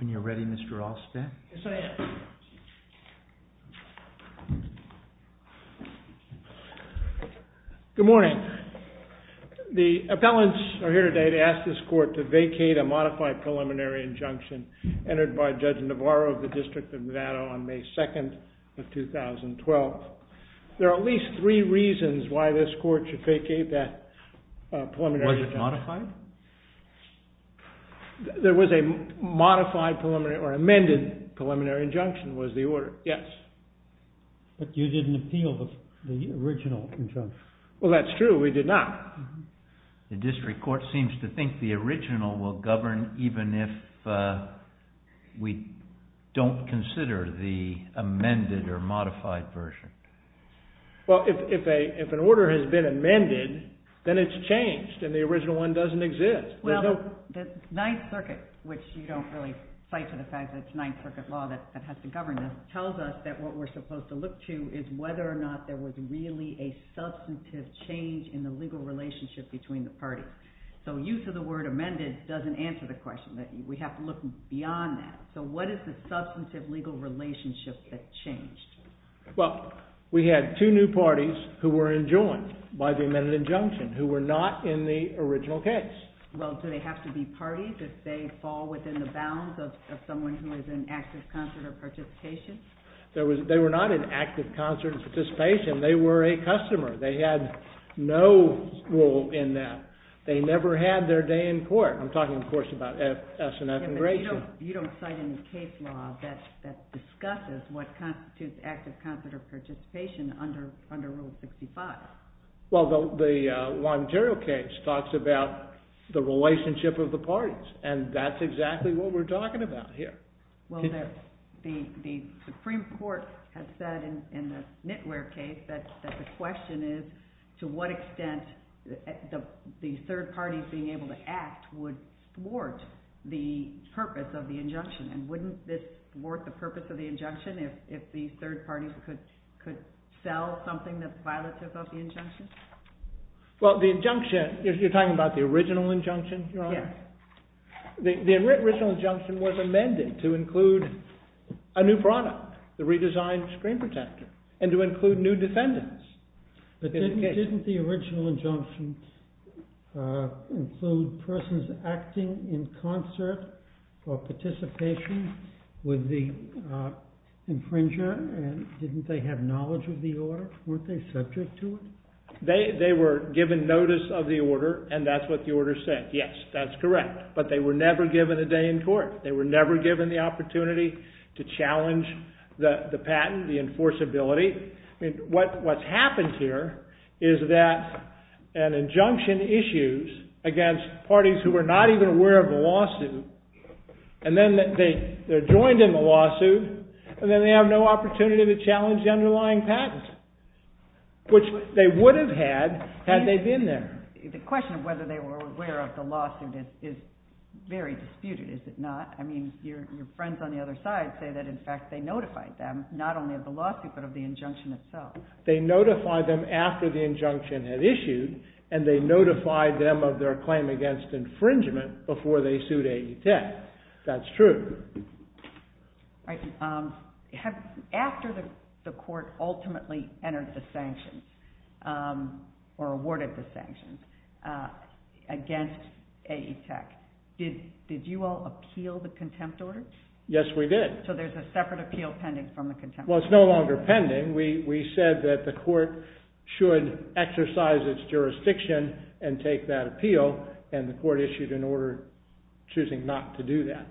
When you're ready, Mr. Ross. Good morning. The appellants are here today to ask this court to vacate a modified preliminary injunction entered by Judge Navarro of the District of Nevada on May 2, 2012. There are at least three reasons why this court should vacate that preliminary injunction. Was it modified? There was a modified preliminary or amended preliminary injunction was the order, yes. But you didn't appeal the original injunction. Well, that's true, we did not. The district court seems to think the original will govern even if we don't consider the amended or modified version. Well, if an order has been amended, then it's changed and the original one doesn't exist. Well, the Ninth Circuit, which you don't really cite to the fact that it's Ninth Circuit law that has to govern this, tells us that what we're supposed to look to is whether or not there was really a substantive change in the legal relationship between the parties. So use of the word amended doesn't answer the question, that we have to look beyond that. So what is the substantive legal relationship that changed? Well, we had two new parties who were enjoined by the amended injunction who were not in the original case. Well, do they have to be parties if they fall within the bounds of someone who is in active concert or participation? They were not in active concert or participation, they were a customer. They had no role in that. They never had their day in court. I'm talking, of course, about F. S. and F. and Grayson. You don't cite any case law that discusses what constitutes active concert or participation under Rule 65. Well, the Longiero case talks about the relationship of the parties, and that's exactly what we're talking about here. Well, the Supreme Court has said in the Knitwear case that the question is to what extent the purpose of the injunction, and wouldn't this warrant the purpose of the injunction if the third party could sell something that's violative of the injunction? Well, the injunction, you're talking about the original injunction, Your Honor? Yes. The original injunction was amended to include a new product, the redesigned screen protector, and to include new defendants. But didn't the original injunction include persons acting in concert or participation with the infringer, and didn't they have knowledge of the order? Weren't they subject to it? They were given notice of the order, and that's what the order said. Yes, that's correct. But they were never given a day in court. They were never given the opportunity to challenge the patent, the enforceability. What's happened here is that an injunction issues against parties who are not even aware of the lawsuit, and then they're joined in the lawsuit, and then they have no opportunity to challenge the underlying patent, which they would have had, had they been there. The question of whether they were aware of the lawsuit is very disputed, is it not? I mean, your friends on the other side say that, in fact, they notified them, not only of the lawsuit, but of the injunction itself. They notified them after the injunction had issued, and they notified them of their claim against infringement before they sued AETEC. That's true. All right. After the court ultimately entered the sanction, or awarded the sanction, against AETEC, did you all appeal the contempt order? So there's a separate appeal pending from the contempt order? Well, it's no longer pending. We said that the court should exercise its jurisdiction and take that appeal, and the court issued an order choosing not to do that.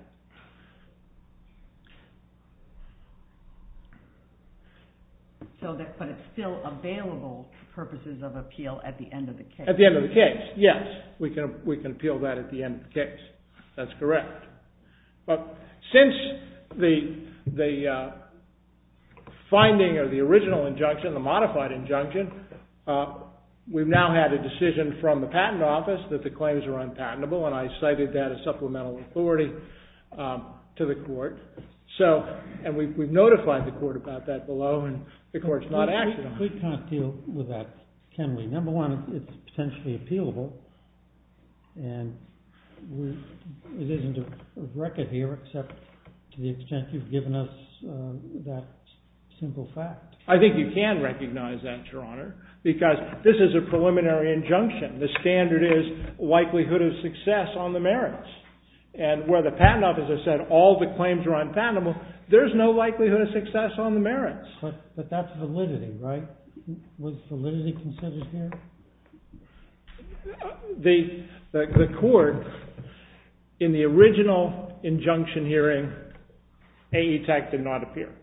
But it's still available purposes of appeal at the end of the case? At the end of the case, yes. We can appeal that at the end of the case. That's correct. But since the finding of the original injunction, the modified injunction, we've now had a decision from the patent office that the claims are unpatentable, and I cited that as supplemental authority to the court. So, and we've notified the court about that below, and the court's not acting on it. We can't deal with that, can we? Number one, it's potentially appealable, and it isn't a record here, except to the extent you've given us that simple fact. I think you can recognize that, Your Honor, because this is a preliminary injunction. The standard is likelihood of success on the merits. And where the patent officer said all the claims are unpatentable, there's no likelihood of success on the merits. But that's validity, right? Was validity considered here? The court, in the original injunction hearing, AETAC did not appear.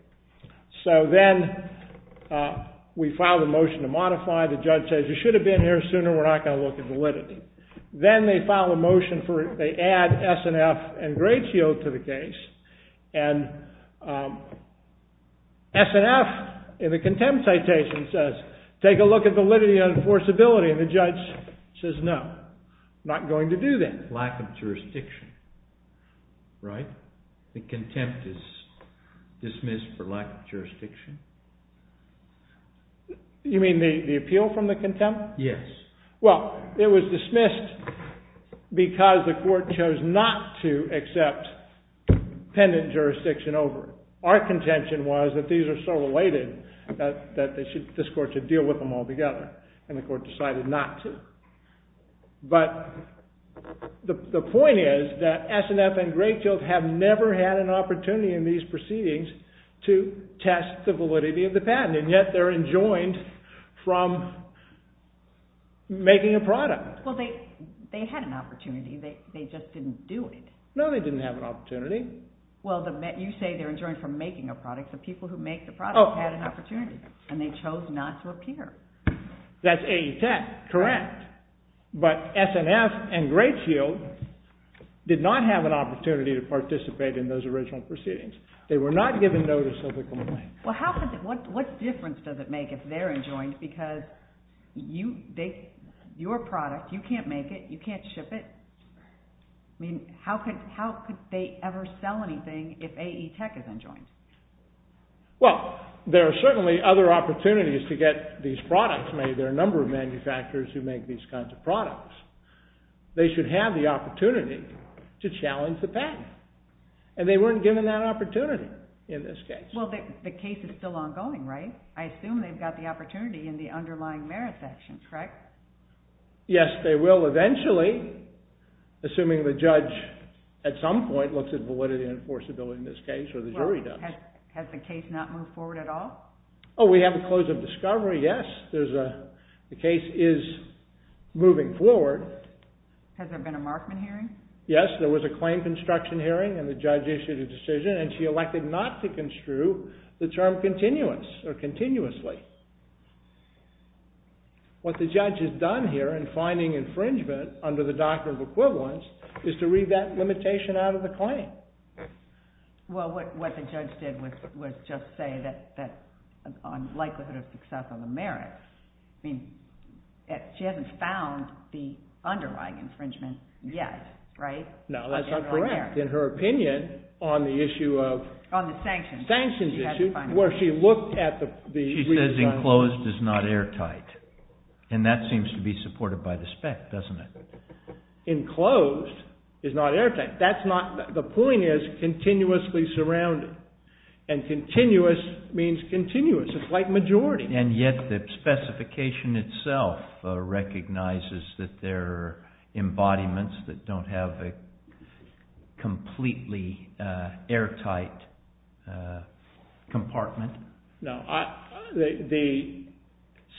So then we filed a motion to modify. The judge says, you should have been here sooner. We're not going to look at validity. Then they filed a motion for, they add S&F and Gradeshield to the case, and S&F, in the contempt citation, says, take a look at validity and enforceability. And the judge says, no, not going to do that. Lack of jurisdiction, right? The contempt is dismissed for lack of jurisdiction? You mean the appeal from the contempt? Yes. Well, it was dismissed because the court chose not to accept pendent jurisdiction over it. Our contention was that these are so related that this court should deal with them all together. And the court decided not to. But the point is that S&F and Gradeshield have never had an opportunity in these proceedings to test the validity of the patent, and yet they're enjoined from making a product. Well, they had an opportunity. They just didn't do it. No, they didn't have an opportunity. Well, you say they're enjoined from making a product. The people who make the product had an opportunity, and they chose not to appear. That's AE10, correct. But S&F and Gradeshield did not have an opportunity to participate in those original proceedings. They were not given notice of the complaint. Well, what difference does it make if they're enjoined? Because your product, you can't make it, you can't ship it. I mean, how could they ever sell anything if AE10 is enjoined? Well, there are certainly other opportunities to get these products made. There are a number of manufacturers who make these kinds of products. They should have the opportunity to challenge the patent. And they weren't given that opportunity in this case. Well, the case is still ongoing, right? I assume they've got the opportunity in the underlying merit section, correct? Yes, they will eventually, assuming the judge, at some point, looks at validity and enforceability in this case, or the jury does. Has the case not moved forward at all? Oh, we have a close of discovery, yes. The case is moving forward. Has there been a Markman hearing? Yes, there was a claim construction hearing, and the judge issued a decision, and she elected not to construe the term continuously. What the judge has done here in finding infringement under the Doctrine of Equivalence is to read that limitation out of the claim. Well, what the judge did was just say that, on likelihood of success on the merit, I mean, she hasn't found the underlying infringement yet, right? No, that's not correct. In her opinion, on the issue of... On the sanctions. Sanctions issue, where she looked at the... She says enclosed is not airtight, and that seems to be supported by the spec, doesn't it? Enclosed is not airtight. The point is continuously surrounded, and continuous means continuous. It's like majority. And yet the specification itself recognizes that there are embodiments that don't have a completely airtight compartment. No, the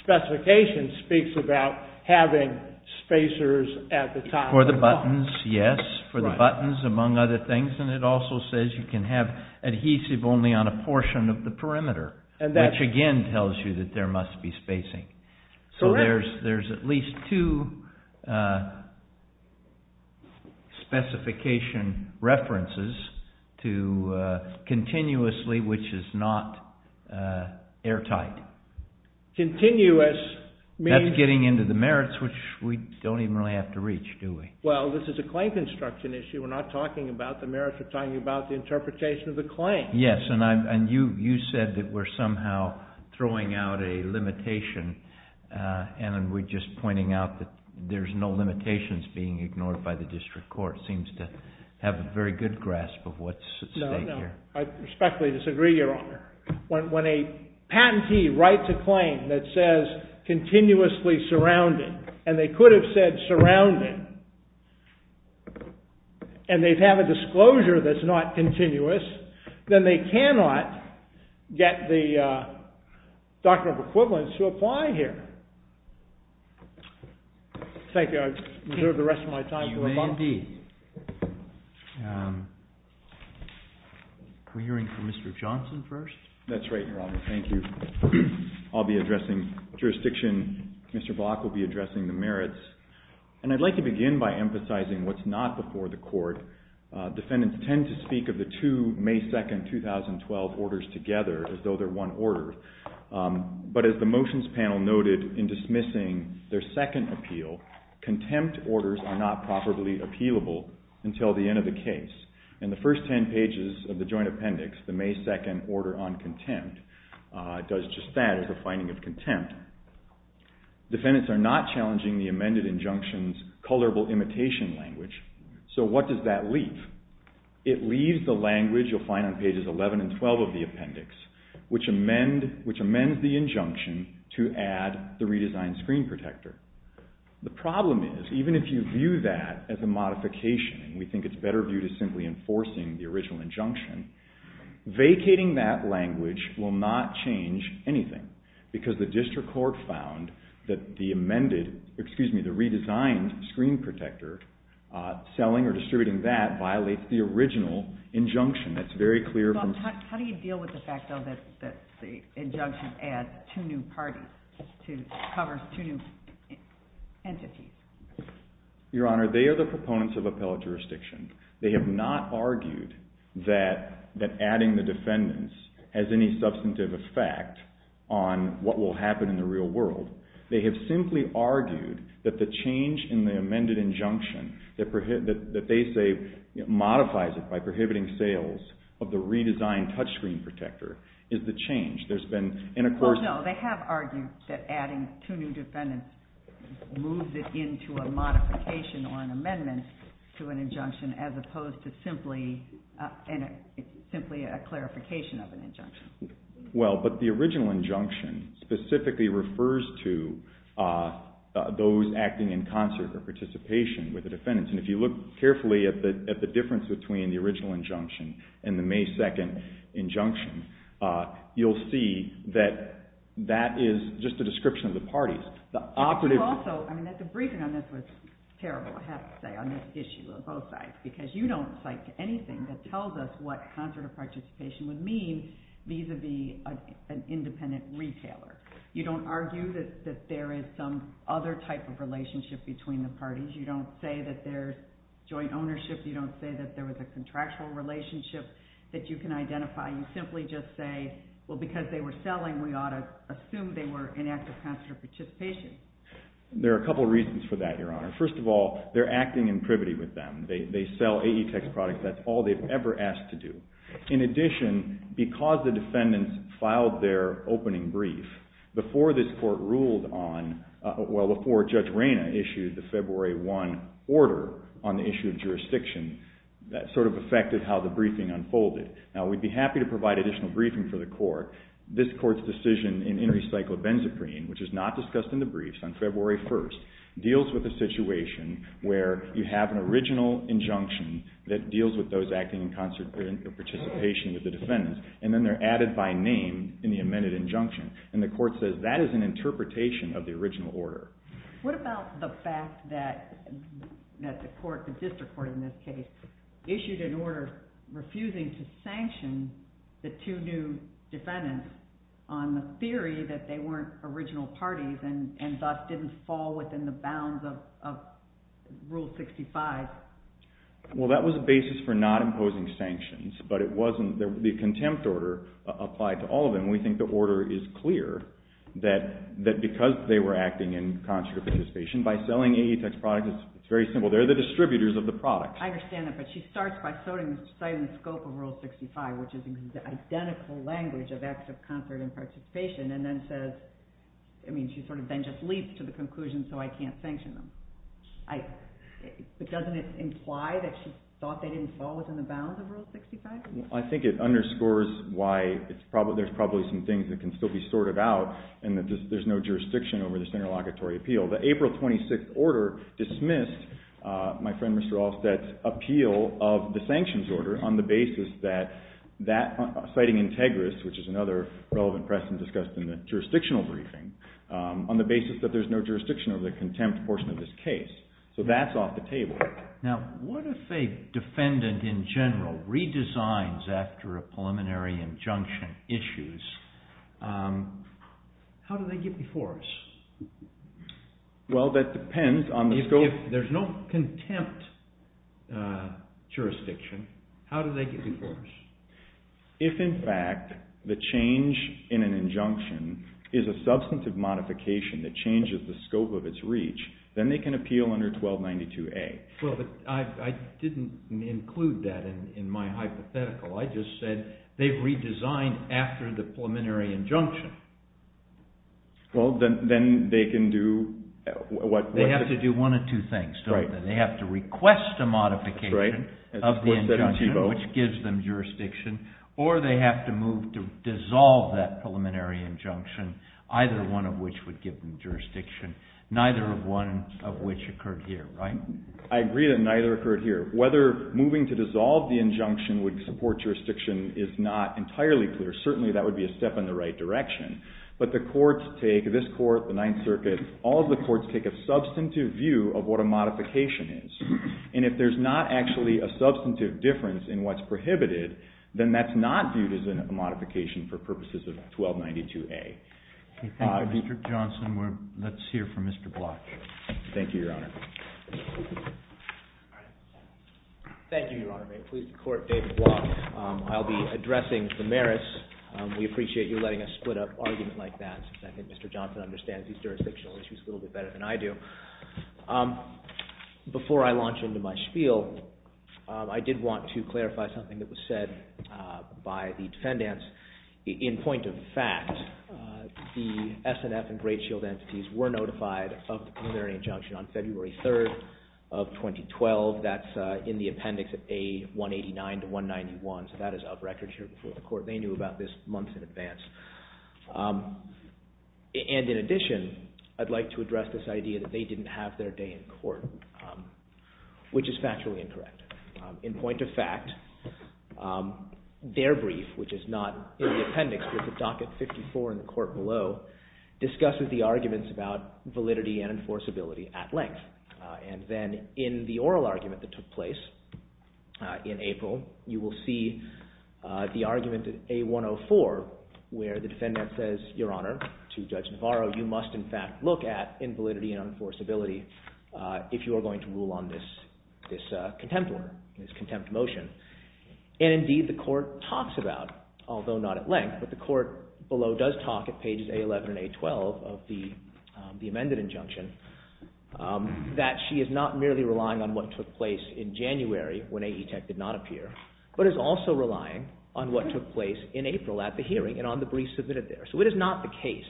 specification speaks about having spacers at the top. For the buttons, yes, for the buttons, among other things, and it also says you can have adhesive only on a portion of the perimeter, which again tells you that there must be spacing. So there's at least two specification references to continuously, which is not airtight. Continuous means... That's getting into the merits, which we don't even really have to reach, do we? Well, this is a claim construction issue. We're not talking about the merits. We're talking about the interpretation of the claim. Yes, and you said that we're somehow throwing out a limitation, and we're just pointing out that there's no limitations being ignored by the district court. The district court seems to have a very good grasp of what's at stake here. No, no, I respectfully disagree, Your Honor. When a patentee writes a claim that says continuously surrounded, and they could have said surrounded, and they'd have a disclosure that's not continuous, then they cannot get the Doctrine of Equivalence to apply here. Thank you. I think I reserve the rest of my time for a moment. We're hearing from Mr. Johnson first. That's right, Your Honor. Thank you. I'll be addressing jurisdiction. Mr. Block will be addressing the merits. And I'd like to begin by emphasizing what's not before the court. Defendants tend to speak of the two May 2, 2012, orders together as though they're one order. But as the motions panel noted in dismissing their second appeal, contempt orders are not properly appealable until the end of the case. In the first ten pages of the joint appendix, the May 2 order on contempt does just that, as a finding of contempt. Defendants are not challenging the amended injunction's colorable imitation language. So what does that leave? It leaves the language you'll find on pages 11 and 12 of the appendix, which amends the injunction to add the redesigned screen protector. The problem is, even if you view that as a modification, and we think it's better viewed as simply enforcing the original injunction, vacating that language will not change anything. Because the district court found that the amended, excuse me, the redesigned screen protector, selling or distributing that violates the original injunction. That's very clear. How do you deal with the fact, though, that the injunction adds two new parties, covers two new entities? Your Honor, they are the proponents of appellate jurisdiction. They have not argued that adding the defendants has any substantive effect on what will happen in the real world. They have simply argued that the change in the amended injunction, that they say modifies it by prohibiting sales of the redesigned touchscreen protector, is the change. No, they have argued that adding two new defendants moves it into a modification or an amendment to an injunction, as opposed to simply a clarification of an injunction. Well, but the original injunction specifically refers to those acting in concert or participation with the defendants. And if you look carefully at the difference between the original injunction and the May 2nd injunction, you'll see that that is just a description of the parties. The operative... Also, the briefing on this was terrible, I have to say, on this issue on both sides, because you don't cite anything that tells us what concert or participation would mean vis-à-vis an independent retailer. You don't argue that there is some other type of relationship between the parties. You don't say that there's joint ownership. You don't say that there was a contractual relationship that you can identify. You simply just say, well, because they were selling, we ought to assume they were in active concert or participation. There are a couple of reasons for that, Your Honor. First of all, they're acting in privity with them. They sell AE Tech's products. That's all they've ever asked to do. In addition, because the defendants filed their opening brief, before this court ruled on... Well, before Judge Reyna issued the February 1 order on the issue of jurisdiction, that sort of affected how the briefing unfolded. Now, we'd be happy to provide additional briefing for the court. This court's decision in In Recycled Benzaprene, which is not discussed in the briefs, on February 1, deals with a situation where you have an original injunction that deals with those acting in concert or participation with the defendants. And then they're added by name in the amended injunction. And the court says that is an interpretation of the original order. What about the fact that the court, the district court in this case, issued an order refusing to sanction the two new defendants on the theory that they weren't original parties and thus didn't fall within the bounds of Rule 65? Well, that was a basis for not imposing sanctions. But it wasn't... The contempt order applied to all of them. We think the order is clear that because they were acting in concert or participation, by selling AE Tech's products, it's very simple. They're the distributors of the products. I understand that, but she starts by citing the scope of Rule 65, which is the identical language of acts of concert and participation, and then says... I mean, she sort of then just leaps to the conclusion, so I can't sanction them. But doesn't it imply that she thought they didn't fall within the bounds of Rule 65? I think it underscores why there's probably some things that can still be sorted out, and that there's no jurisdiction over this interlocutory appeal. The April 26th order dismissed my friend Mr. Alsted's appeal of the sanctions order on the basis that... Citing Integris, which is another relevant precedent discussed in the jurisdictional briefing, on the basis that there's no jurisdiction over the contempt portion of this case. So that's off the table. Now, what if a defendant in general redesigns after a preliminary injunction issues? How do they get before us? Well, that depends on the scope... If there's no contempt jurisdiction, how do they get before us? If, in fact, the change in an injunction is a substantive modification that changes the scope of its reach, then they can appeal under 1292A. Well, but I didn't include that in my hypothetical. I just said they've redesigned after the preliminary injunction. Well, then they can do... They have to do one of two things, don't they? They have to request a modification of the injunction, which gives them jurisdiction, or they have to move to dissolve that preliminary injunction, either one of which would give them jurisdiction, neither of which occurred here, right? I agree that neither occurred here. Whether moving to dissolve the injunction would support jurisdiction is not entirely clear. Certainly, that would be a step in the right direction. But the courts take, this court, the Ninth Circuit, all of the courts take a substantive view of what a modification is. And if there's not actually a substantive difference in what's prohibited, then that's not viewed as a modification for purposes of 1292A. Thank you, Mr. Johnson. Let's hear from Mr. Bloch. Thank you, Your Honor. Thank you, Your Honor. Please, the Court, David Bloch. I'll be addressing the merits. We appreciate you letting us split up argument like that, since I think Mr. Johnson understands these jurisdictional issues a little bit better than I do. Before I launch into my spiel, I did want to clarify something that was said by the defendants. In point of fact, the S&F and Great Shield entities were notified of the preliminary injunction on February 3rd of 2012. That's in the appendix at A189-191, so that is out of record here before the Court. They knew about this months in advance. And in addition, I'd like to address this idea that they didn't have their day in Court, which is factually incorrect. In point of fact, their brief, which is not in the appendix, discusses the arguments about validity and enforceability at length. And then in the oral argument that took place in April, you will see the argument at A104, where the defendant says, Your Honor, to Judge Navarro, you must in fact look at invalidity and enforceability if you are going to rule on this contempt order, this contempt motion. And indeed, the Court talks about, although not at length, but the Court below does talk at pages A11 and A12 of the amended injunction, that she is not merely relying on what took place in January when AE Tech did not appear, but is also relying on what took place in April at the hearing and on the brief submitted there. So it is not the case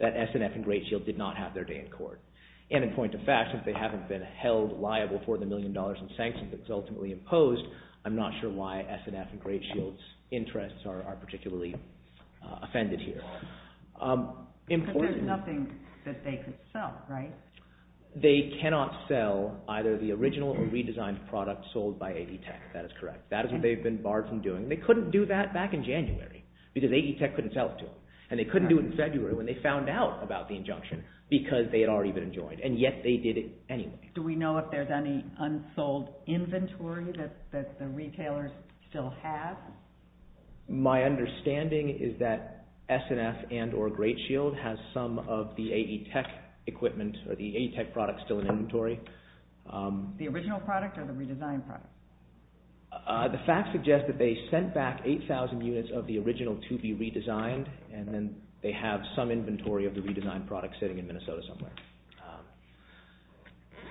that S&F and Great Shield did not have their day in Court. And in point of fact, since they haven't been held liable for the million dollars in sanctions that's ultimately imposed, I'm not sure why S&F and Great Shield's interests are particularly offended here. But there's nothing that they could sell, right? They cannot sell either the original or redesigned product sold by AE Tech. That is correct. That is what they've been barred from doing. They couldn't do that back in January because AE Tech couldn't sell it to them. And they couldn't do it in February when they found out about the injunction because they had already been enjoined. And yet they did it anyway. Do we know if there's any unsold inventory that the retailers still have? My understanding is that S&F and or Great Shield has some of the AE Tech equipment or the AE Tech product still in inventory. The original product or the redesigned product? The facts suggest that they sent back 8,000 units of the original to be redesigned and then they have some inventory of the redesigned product sitting in Minnesota somewhere.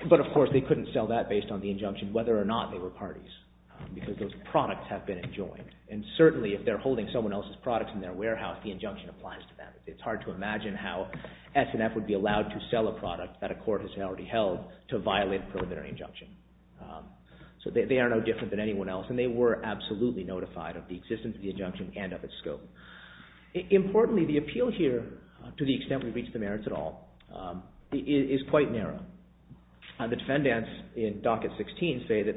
But of course they couldn't sell that based on the injunction whether or not they were parties. Because those products have been enjoined. And certainly if they're holding someone else's products in their warehouse, the injunction applies to them. It's hard to imagine how S&F would be allowed to sell a product that a court has already held to violate a preliminary injunction. So they are no different than anyone else. And they were absolutely notified of the existence of the injunction and of its scope. Importantly, the appeal here to the extent we reach the merits at all is quite narrow. The defendants in Docket 16 say that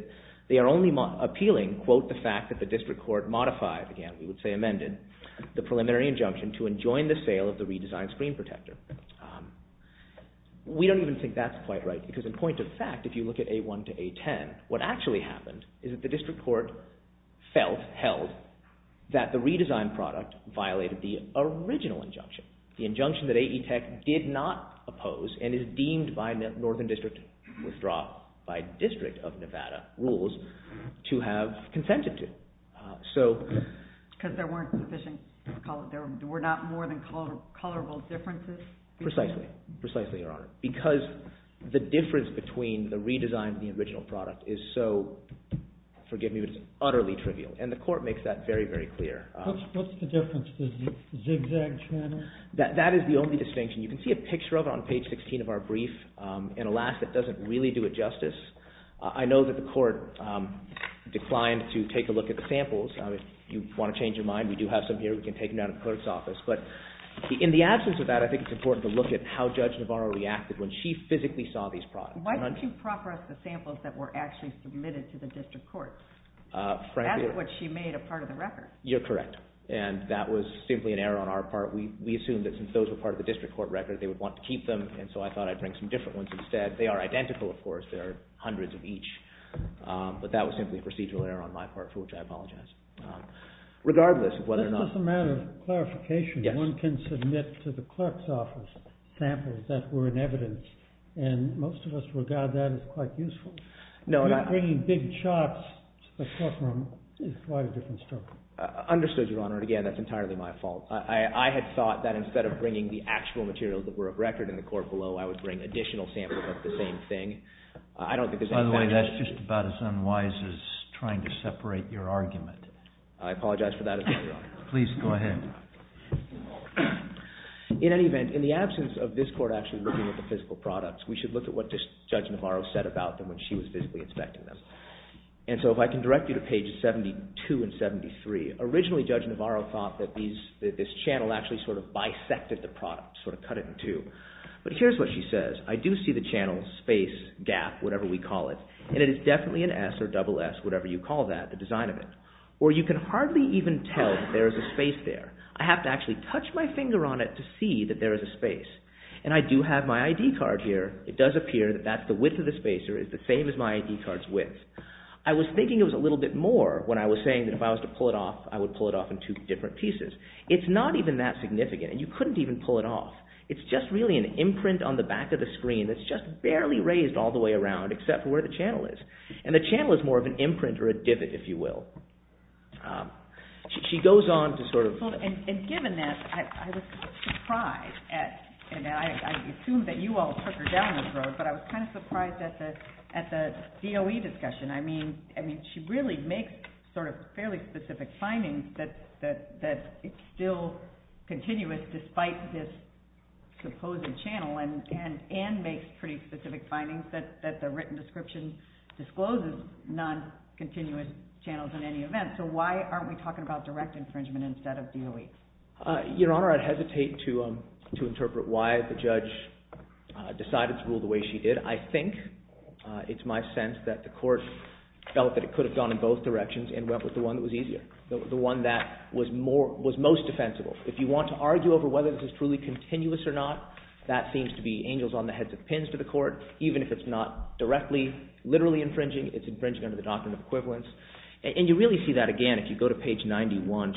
they are only appealing, quote, the fact that the district court modified, again we would say amended, the preliminary injunction to enjoin the sale of the redesigned screen protector. We don't even think that's quite right. Because in point of fact, if you look at A1 to A10, what actually happened is that the district court felt, held, that the redesigned product violated the original injunction. The injunction that AETEC did not oppose and is deemed by the Northern District withdrawal by District of Nevada rules to have consented to. Because there weren't sufficient, there were not more than colorable differences? Precisely, precisely, Your Honor. Because the difference between the redesigned and the original product is so, forgive me, but it's utterly trivial. And the court makes that very, very clear. What's the difference? The zigzag pattern? That is the only distinction. You can see a picture of it on page 16 of our brief. And alas, it doesn't really do it justice. I know that the court declined to take a look at the samples. If you want to change your mind, we do have some here. We can take them down to the clerk's office. But in the absence of that, I think it's important to look at how Judge Navarro reacted when she physically saw these products. Why didn't you prop her up the samples that were actually submitted to the district court? That's what she made a part of the record. You're correct. And that was simply an error on our part. We assumed that since those were part of the district court record, they would want to keep them. And so I thought I'd bring some different ones instead. They are identical, of course. There are hundreds of each. But that was simply a procedural error on my part, for which I apologize. This is a matter of clarification. One can submit to the clerk's office samples that were in evidence. And most of us regard that as quite useful. Bringing big charts to the courtroom is quite a different story. Understood, Your Honor. And again, that's entirely my fault. I had thought that instead of bringing the actual materials that were of record in the court below, I would bring additional samples of the same thing. By the way, that's just about as unwise as trying to separate your argument. I apologize for that. Please go ahead. In any event, in the absence of this court actually looking at the physical products, we should look at what Judge Navarro said about them when she was physically inspecting them. And so if I can direct you to pages 72 and 73. Originally, Judge Navarro thought that this channel actually sort of bisected the product, sort of cut it in two. But here's what she says. I do see the channel, space, gap, whatever we call it. And it is definitely an S or double S, whatever you call that, the design of it. Or you can hardly even tell that there is a space there. I have to actually touch my finger on it to see that there is a space. And I do have my ID card here. It does appear that that's the width of the spacer. It's the same as my ID card's width. I was thinking it was a little bit more when I was saying that if I was to pull it off, I would pull it off in two different pieces. It's not even that significant. You couldn't even pull it off. It's just really an imprint on the back of the screen that's just barely raised all the way around except for where the channel is. And the channel is more of an imprint or a divot, if you will. She goes on to sort of... And given that, I was kind of surprised and I assume that you all took her down this road, but I was kind of surprised at the DOE discussion. I mean, she really makes sort of fairly specific findings that it's still continuous despite this supposed channel and makes pretty specific findings that the written description discloses non-continuous channels in any event. So why aren't we talking about direct infringement instead of DOE? Your Honor, I'd hesitate to interpret why the judge decided to rule the way she did. I think, it's my sense that the court felt that it could have gone in both directions and went with the one that was easier. The one that was most defensible. If you want to argue over whether this is truly continuous or not, that seems to be angels on the heads of pins to the court. Even if it's not directly literally infringing, it's infringing under the doctrine of equivalence. And you really see that again if you go to page 91.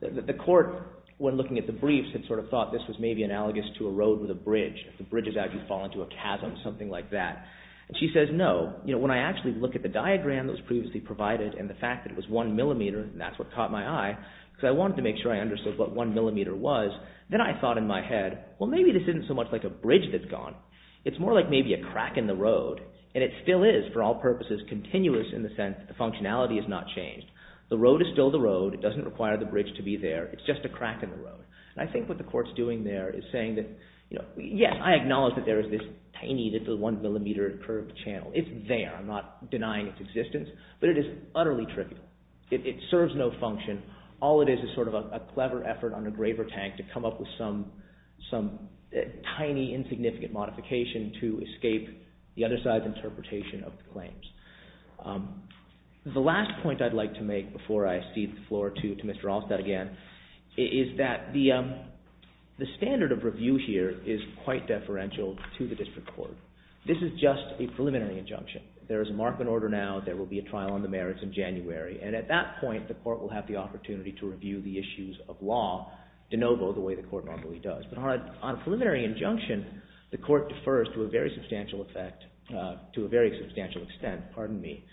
The court, when looking at the briefs, had sort of thought this was maybe analogous to a road with a bridge. The bridge has actually fallen into a chasm, something like that. And she says, no. You know, when I actually look at the diagram that was previously provided and the fact that it was one millimeter, and that's what caught my eye, because I wanted to make sure I understood what one millimeter was, then I thought in my head, well, maybe this isn't so much like a bridge that's gone. It's more like maybe a crack in the road. And it still is, for all purposes, continuous in the sense that the functionality has not changed. The road is still the road. It doesn't require the bridge to be there. It's just a crack in the road. And I think what the court's doing there is saying that, you know, yes, I acknowledge that there is this tiny little one millimeter curved channel. It's there. I'm not saying that it's utterly trivial. It serves no function. All it is is sort of a clever effort on a graver tank to come up with some tiny, insignificant modification to escape the other side's interpretation of the claims. The last point I'd like to make before I cede the floor to Mr. Allstead again is that the standard of review here is quite deferential to the district court. This is just a preliminary injunction. There is a mark and order now. There will be a trial on the merits in January. And at that point the court will have the opportunity to review the issues of law de novo the way the court normally does. But on a preliminary injunction, the court defers to a very substantial effect, to a very substantial extent, pardon me,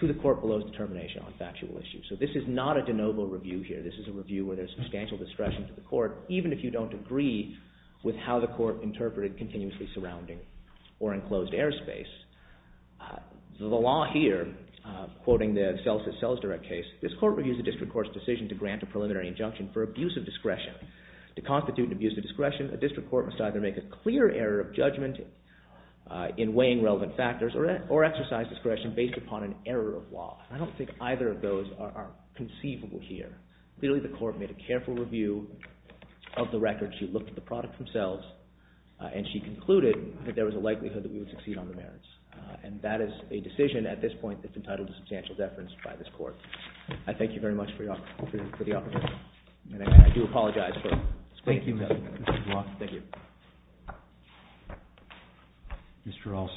to the court below its determination on factual issues. So this is not a de novo review here. This is a review where there's substantial discretion to the court, even if you don't agree with how the court interpreted continuously surrounding or enclosed airspace. The law here, quoting the Celsus-Cells Direct case, this court reviews the district court's decision to grant a preliminary injunction for abuse of discretion. To constitute an abuse of discretion, a district court must either make a clear error of judgment in weighing relevant factors or exercise discretion based upon an error of law. I don't think either of those are conceivable here. Clearly the court made a careful review of the record. She looked at the product themselves and she concluded that there was a likelihood that we would succeed on the merits. And that is a decision at this point that's entitled to substantial deference by this court. I thank you very much for the opportunity. And I do apologize for... Thank you, Mr. Blanc. Thank you. Mr. Alstead.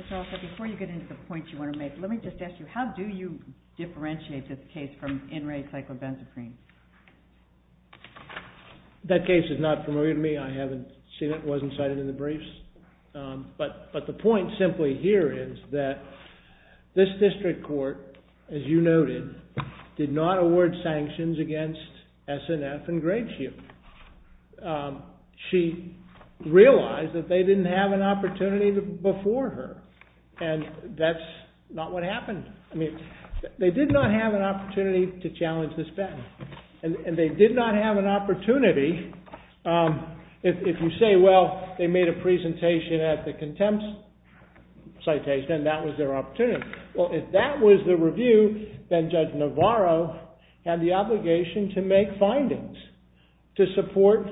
Mr. Alstead, before you get into the points you want to make, let me just ask you, how do you differentiate this case from in-rate psychobenzaprine? That case is not familiar to me. I haven't seen it. It wasn't cited in the briefs. But the point simply here is that this district court, as you noted, did not award sanctions against S&F and Gradesheep. She realized that they didn't have an opportunity before her. And that's not what happened. They did not have an opportunity to challenge this patent. And they did not have an opportunity if you say, well, they made a presentation at the contempt citation, and that was their opportunity. Well, if that was the review, then Judge Navarro had the obligation to make findings to support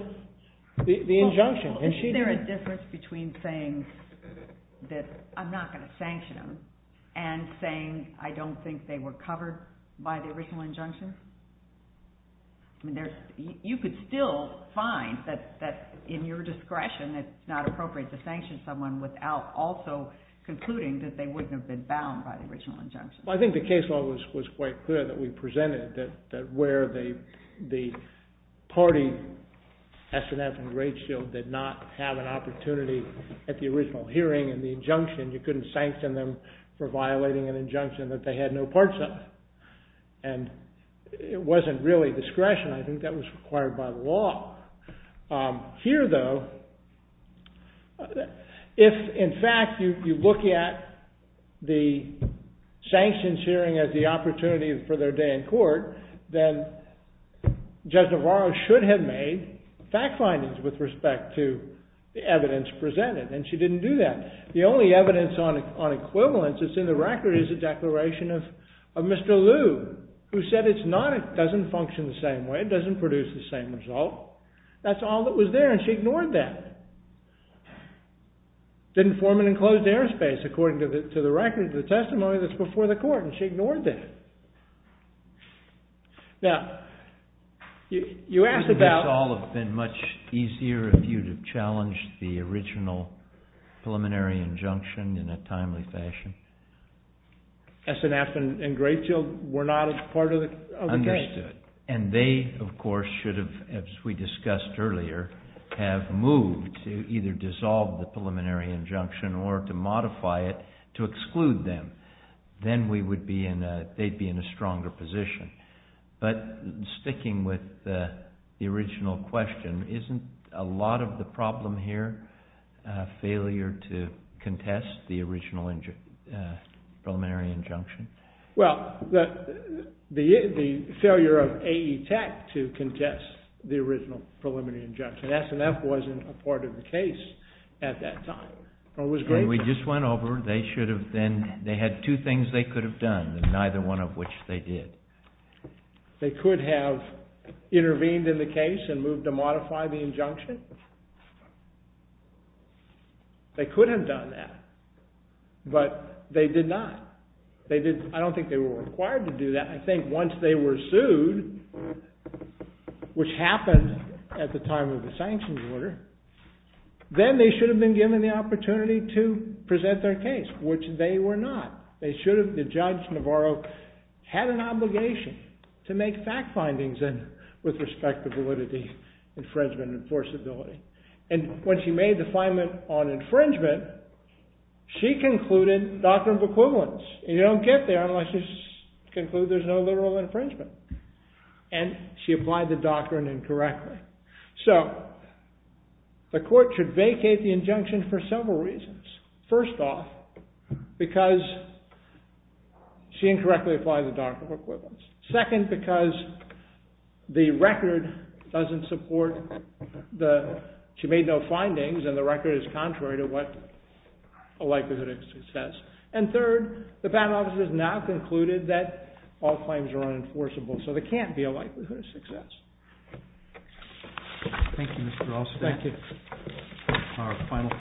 the injunction. Is there a difference between saying that I'm not going to sanction them and saying I don't think they were covered by the original injunction? You could still find that in your discretion it's not appropriate to sanction someone without also concluding that they wouldn't have been bound by the original injunction. Well, I think the case law was quite clear that we presented that where the party S&F and Gradesheep did not have an opportunity at the original hearing in the injunction, you couldn't sanction them for violating an injunction that they had no parts of. And it wasn't really discretion. I think that was required by the law. Here, though, if in fact you look at the sanctions hearing as the opportunity for their day in court, then Judge Navarro should have made fact findings with respect to the evidence presented. And she didn't do that. The only evidence on equivalence that's in the record is a declaration of Mr. Lu, who said it's not, it doesn't function the same way, it doesn't produce the same result. That's all that was there, and she ignored that. It didn't form an enclosed airspace, according to the record, the testimony that's before the court, and she ignored that. Now, you asked about... It would have been much easier if you would have challenged the original preliminary injunction in a timely fashion. SNF and Greyfield were not part of the case. Understood. And they, of course, should have, as we discussed earlier, have moved to either dissolve the preliminary injunction or to modify it to exclude them. Then they'd be in a stronger position. But sticking with the original question, isn't a lot of the problem here failure to contest the original preliminary injunction? Well, the failure of AE Tech to contest the original preliminary injunction, SNF wasn't a part of the case at that time. We just went over, they should have then, they had two things they could have done, neither one of which they did. They could have intervened in the case and moved to modify the injunction. They could have done that. But they did not. I don't think they were required to do that. I think once they were sued, which happened at the time of the sanctions order, then they should have been given the opportunity to present their case, which they were not. They should have. Judge Navarro had an obligation to make fact findings with respect to validity, infringement, enforceability. When she made the findment on infringement, she concluded doctrine of equivalence. You don't get there unless you conclude there's no literal infringement. She applied the doctrine incorrectly. The court should vacate the injunction for several reasons. First off, because she made no findings. Second, because the record doesn't support that she made no findings and the record is contrary to what a likelihood of success. And third, the panel has now concluded that all claims are unenforceable. So there can't be a likelihood of success.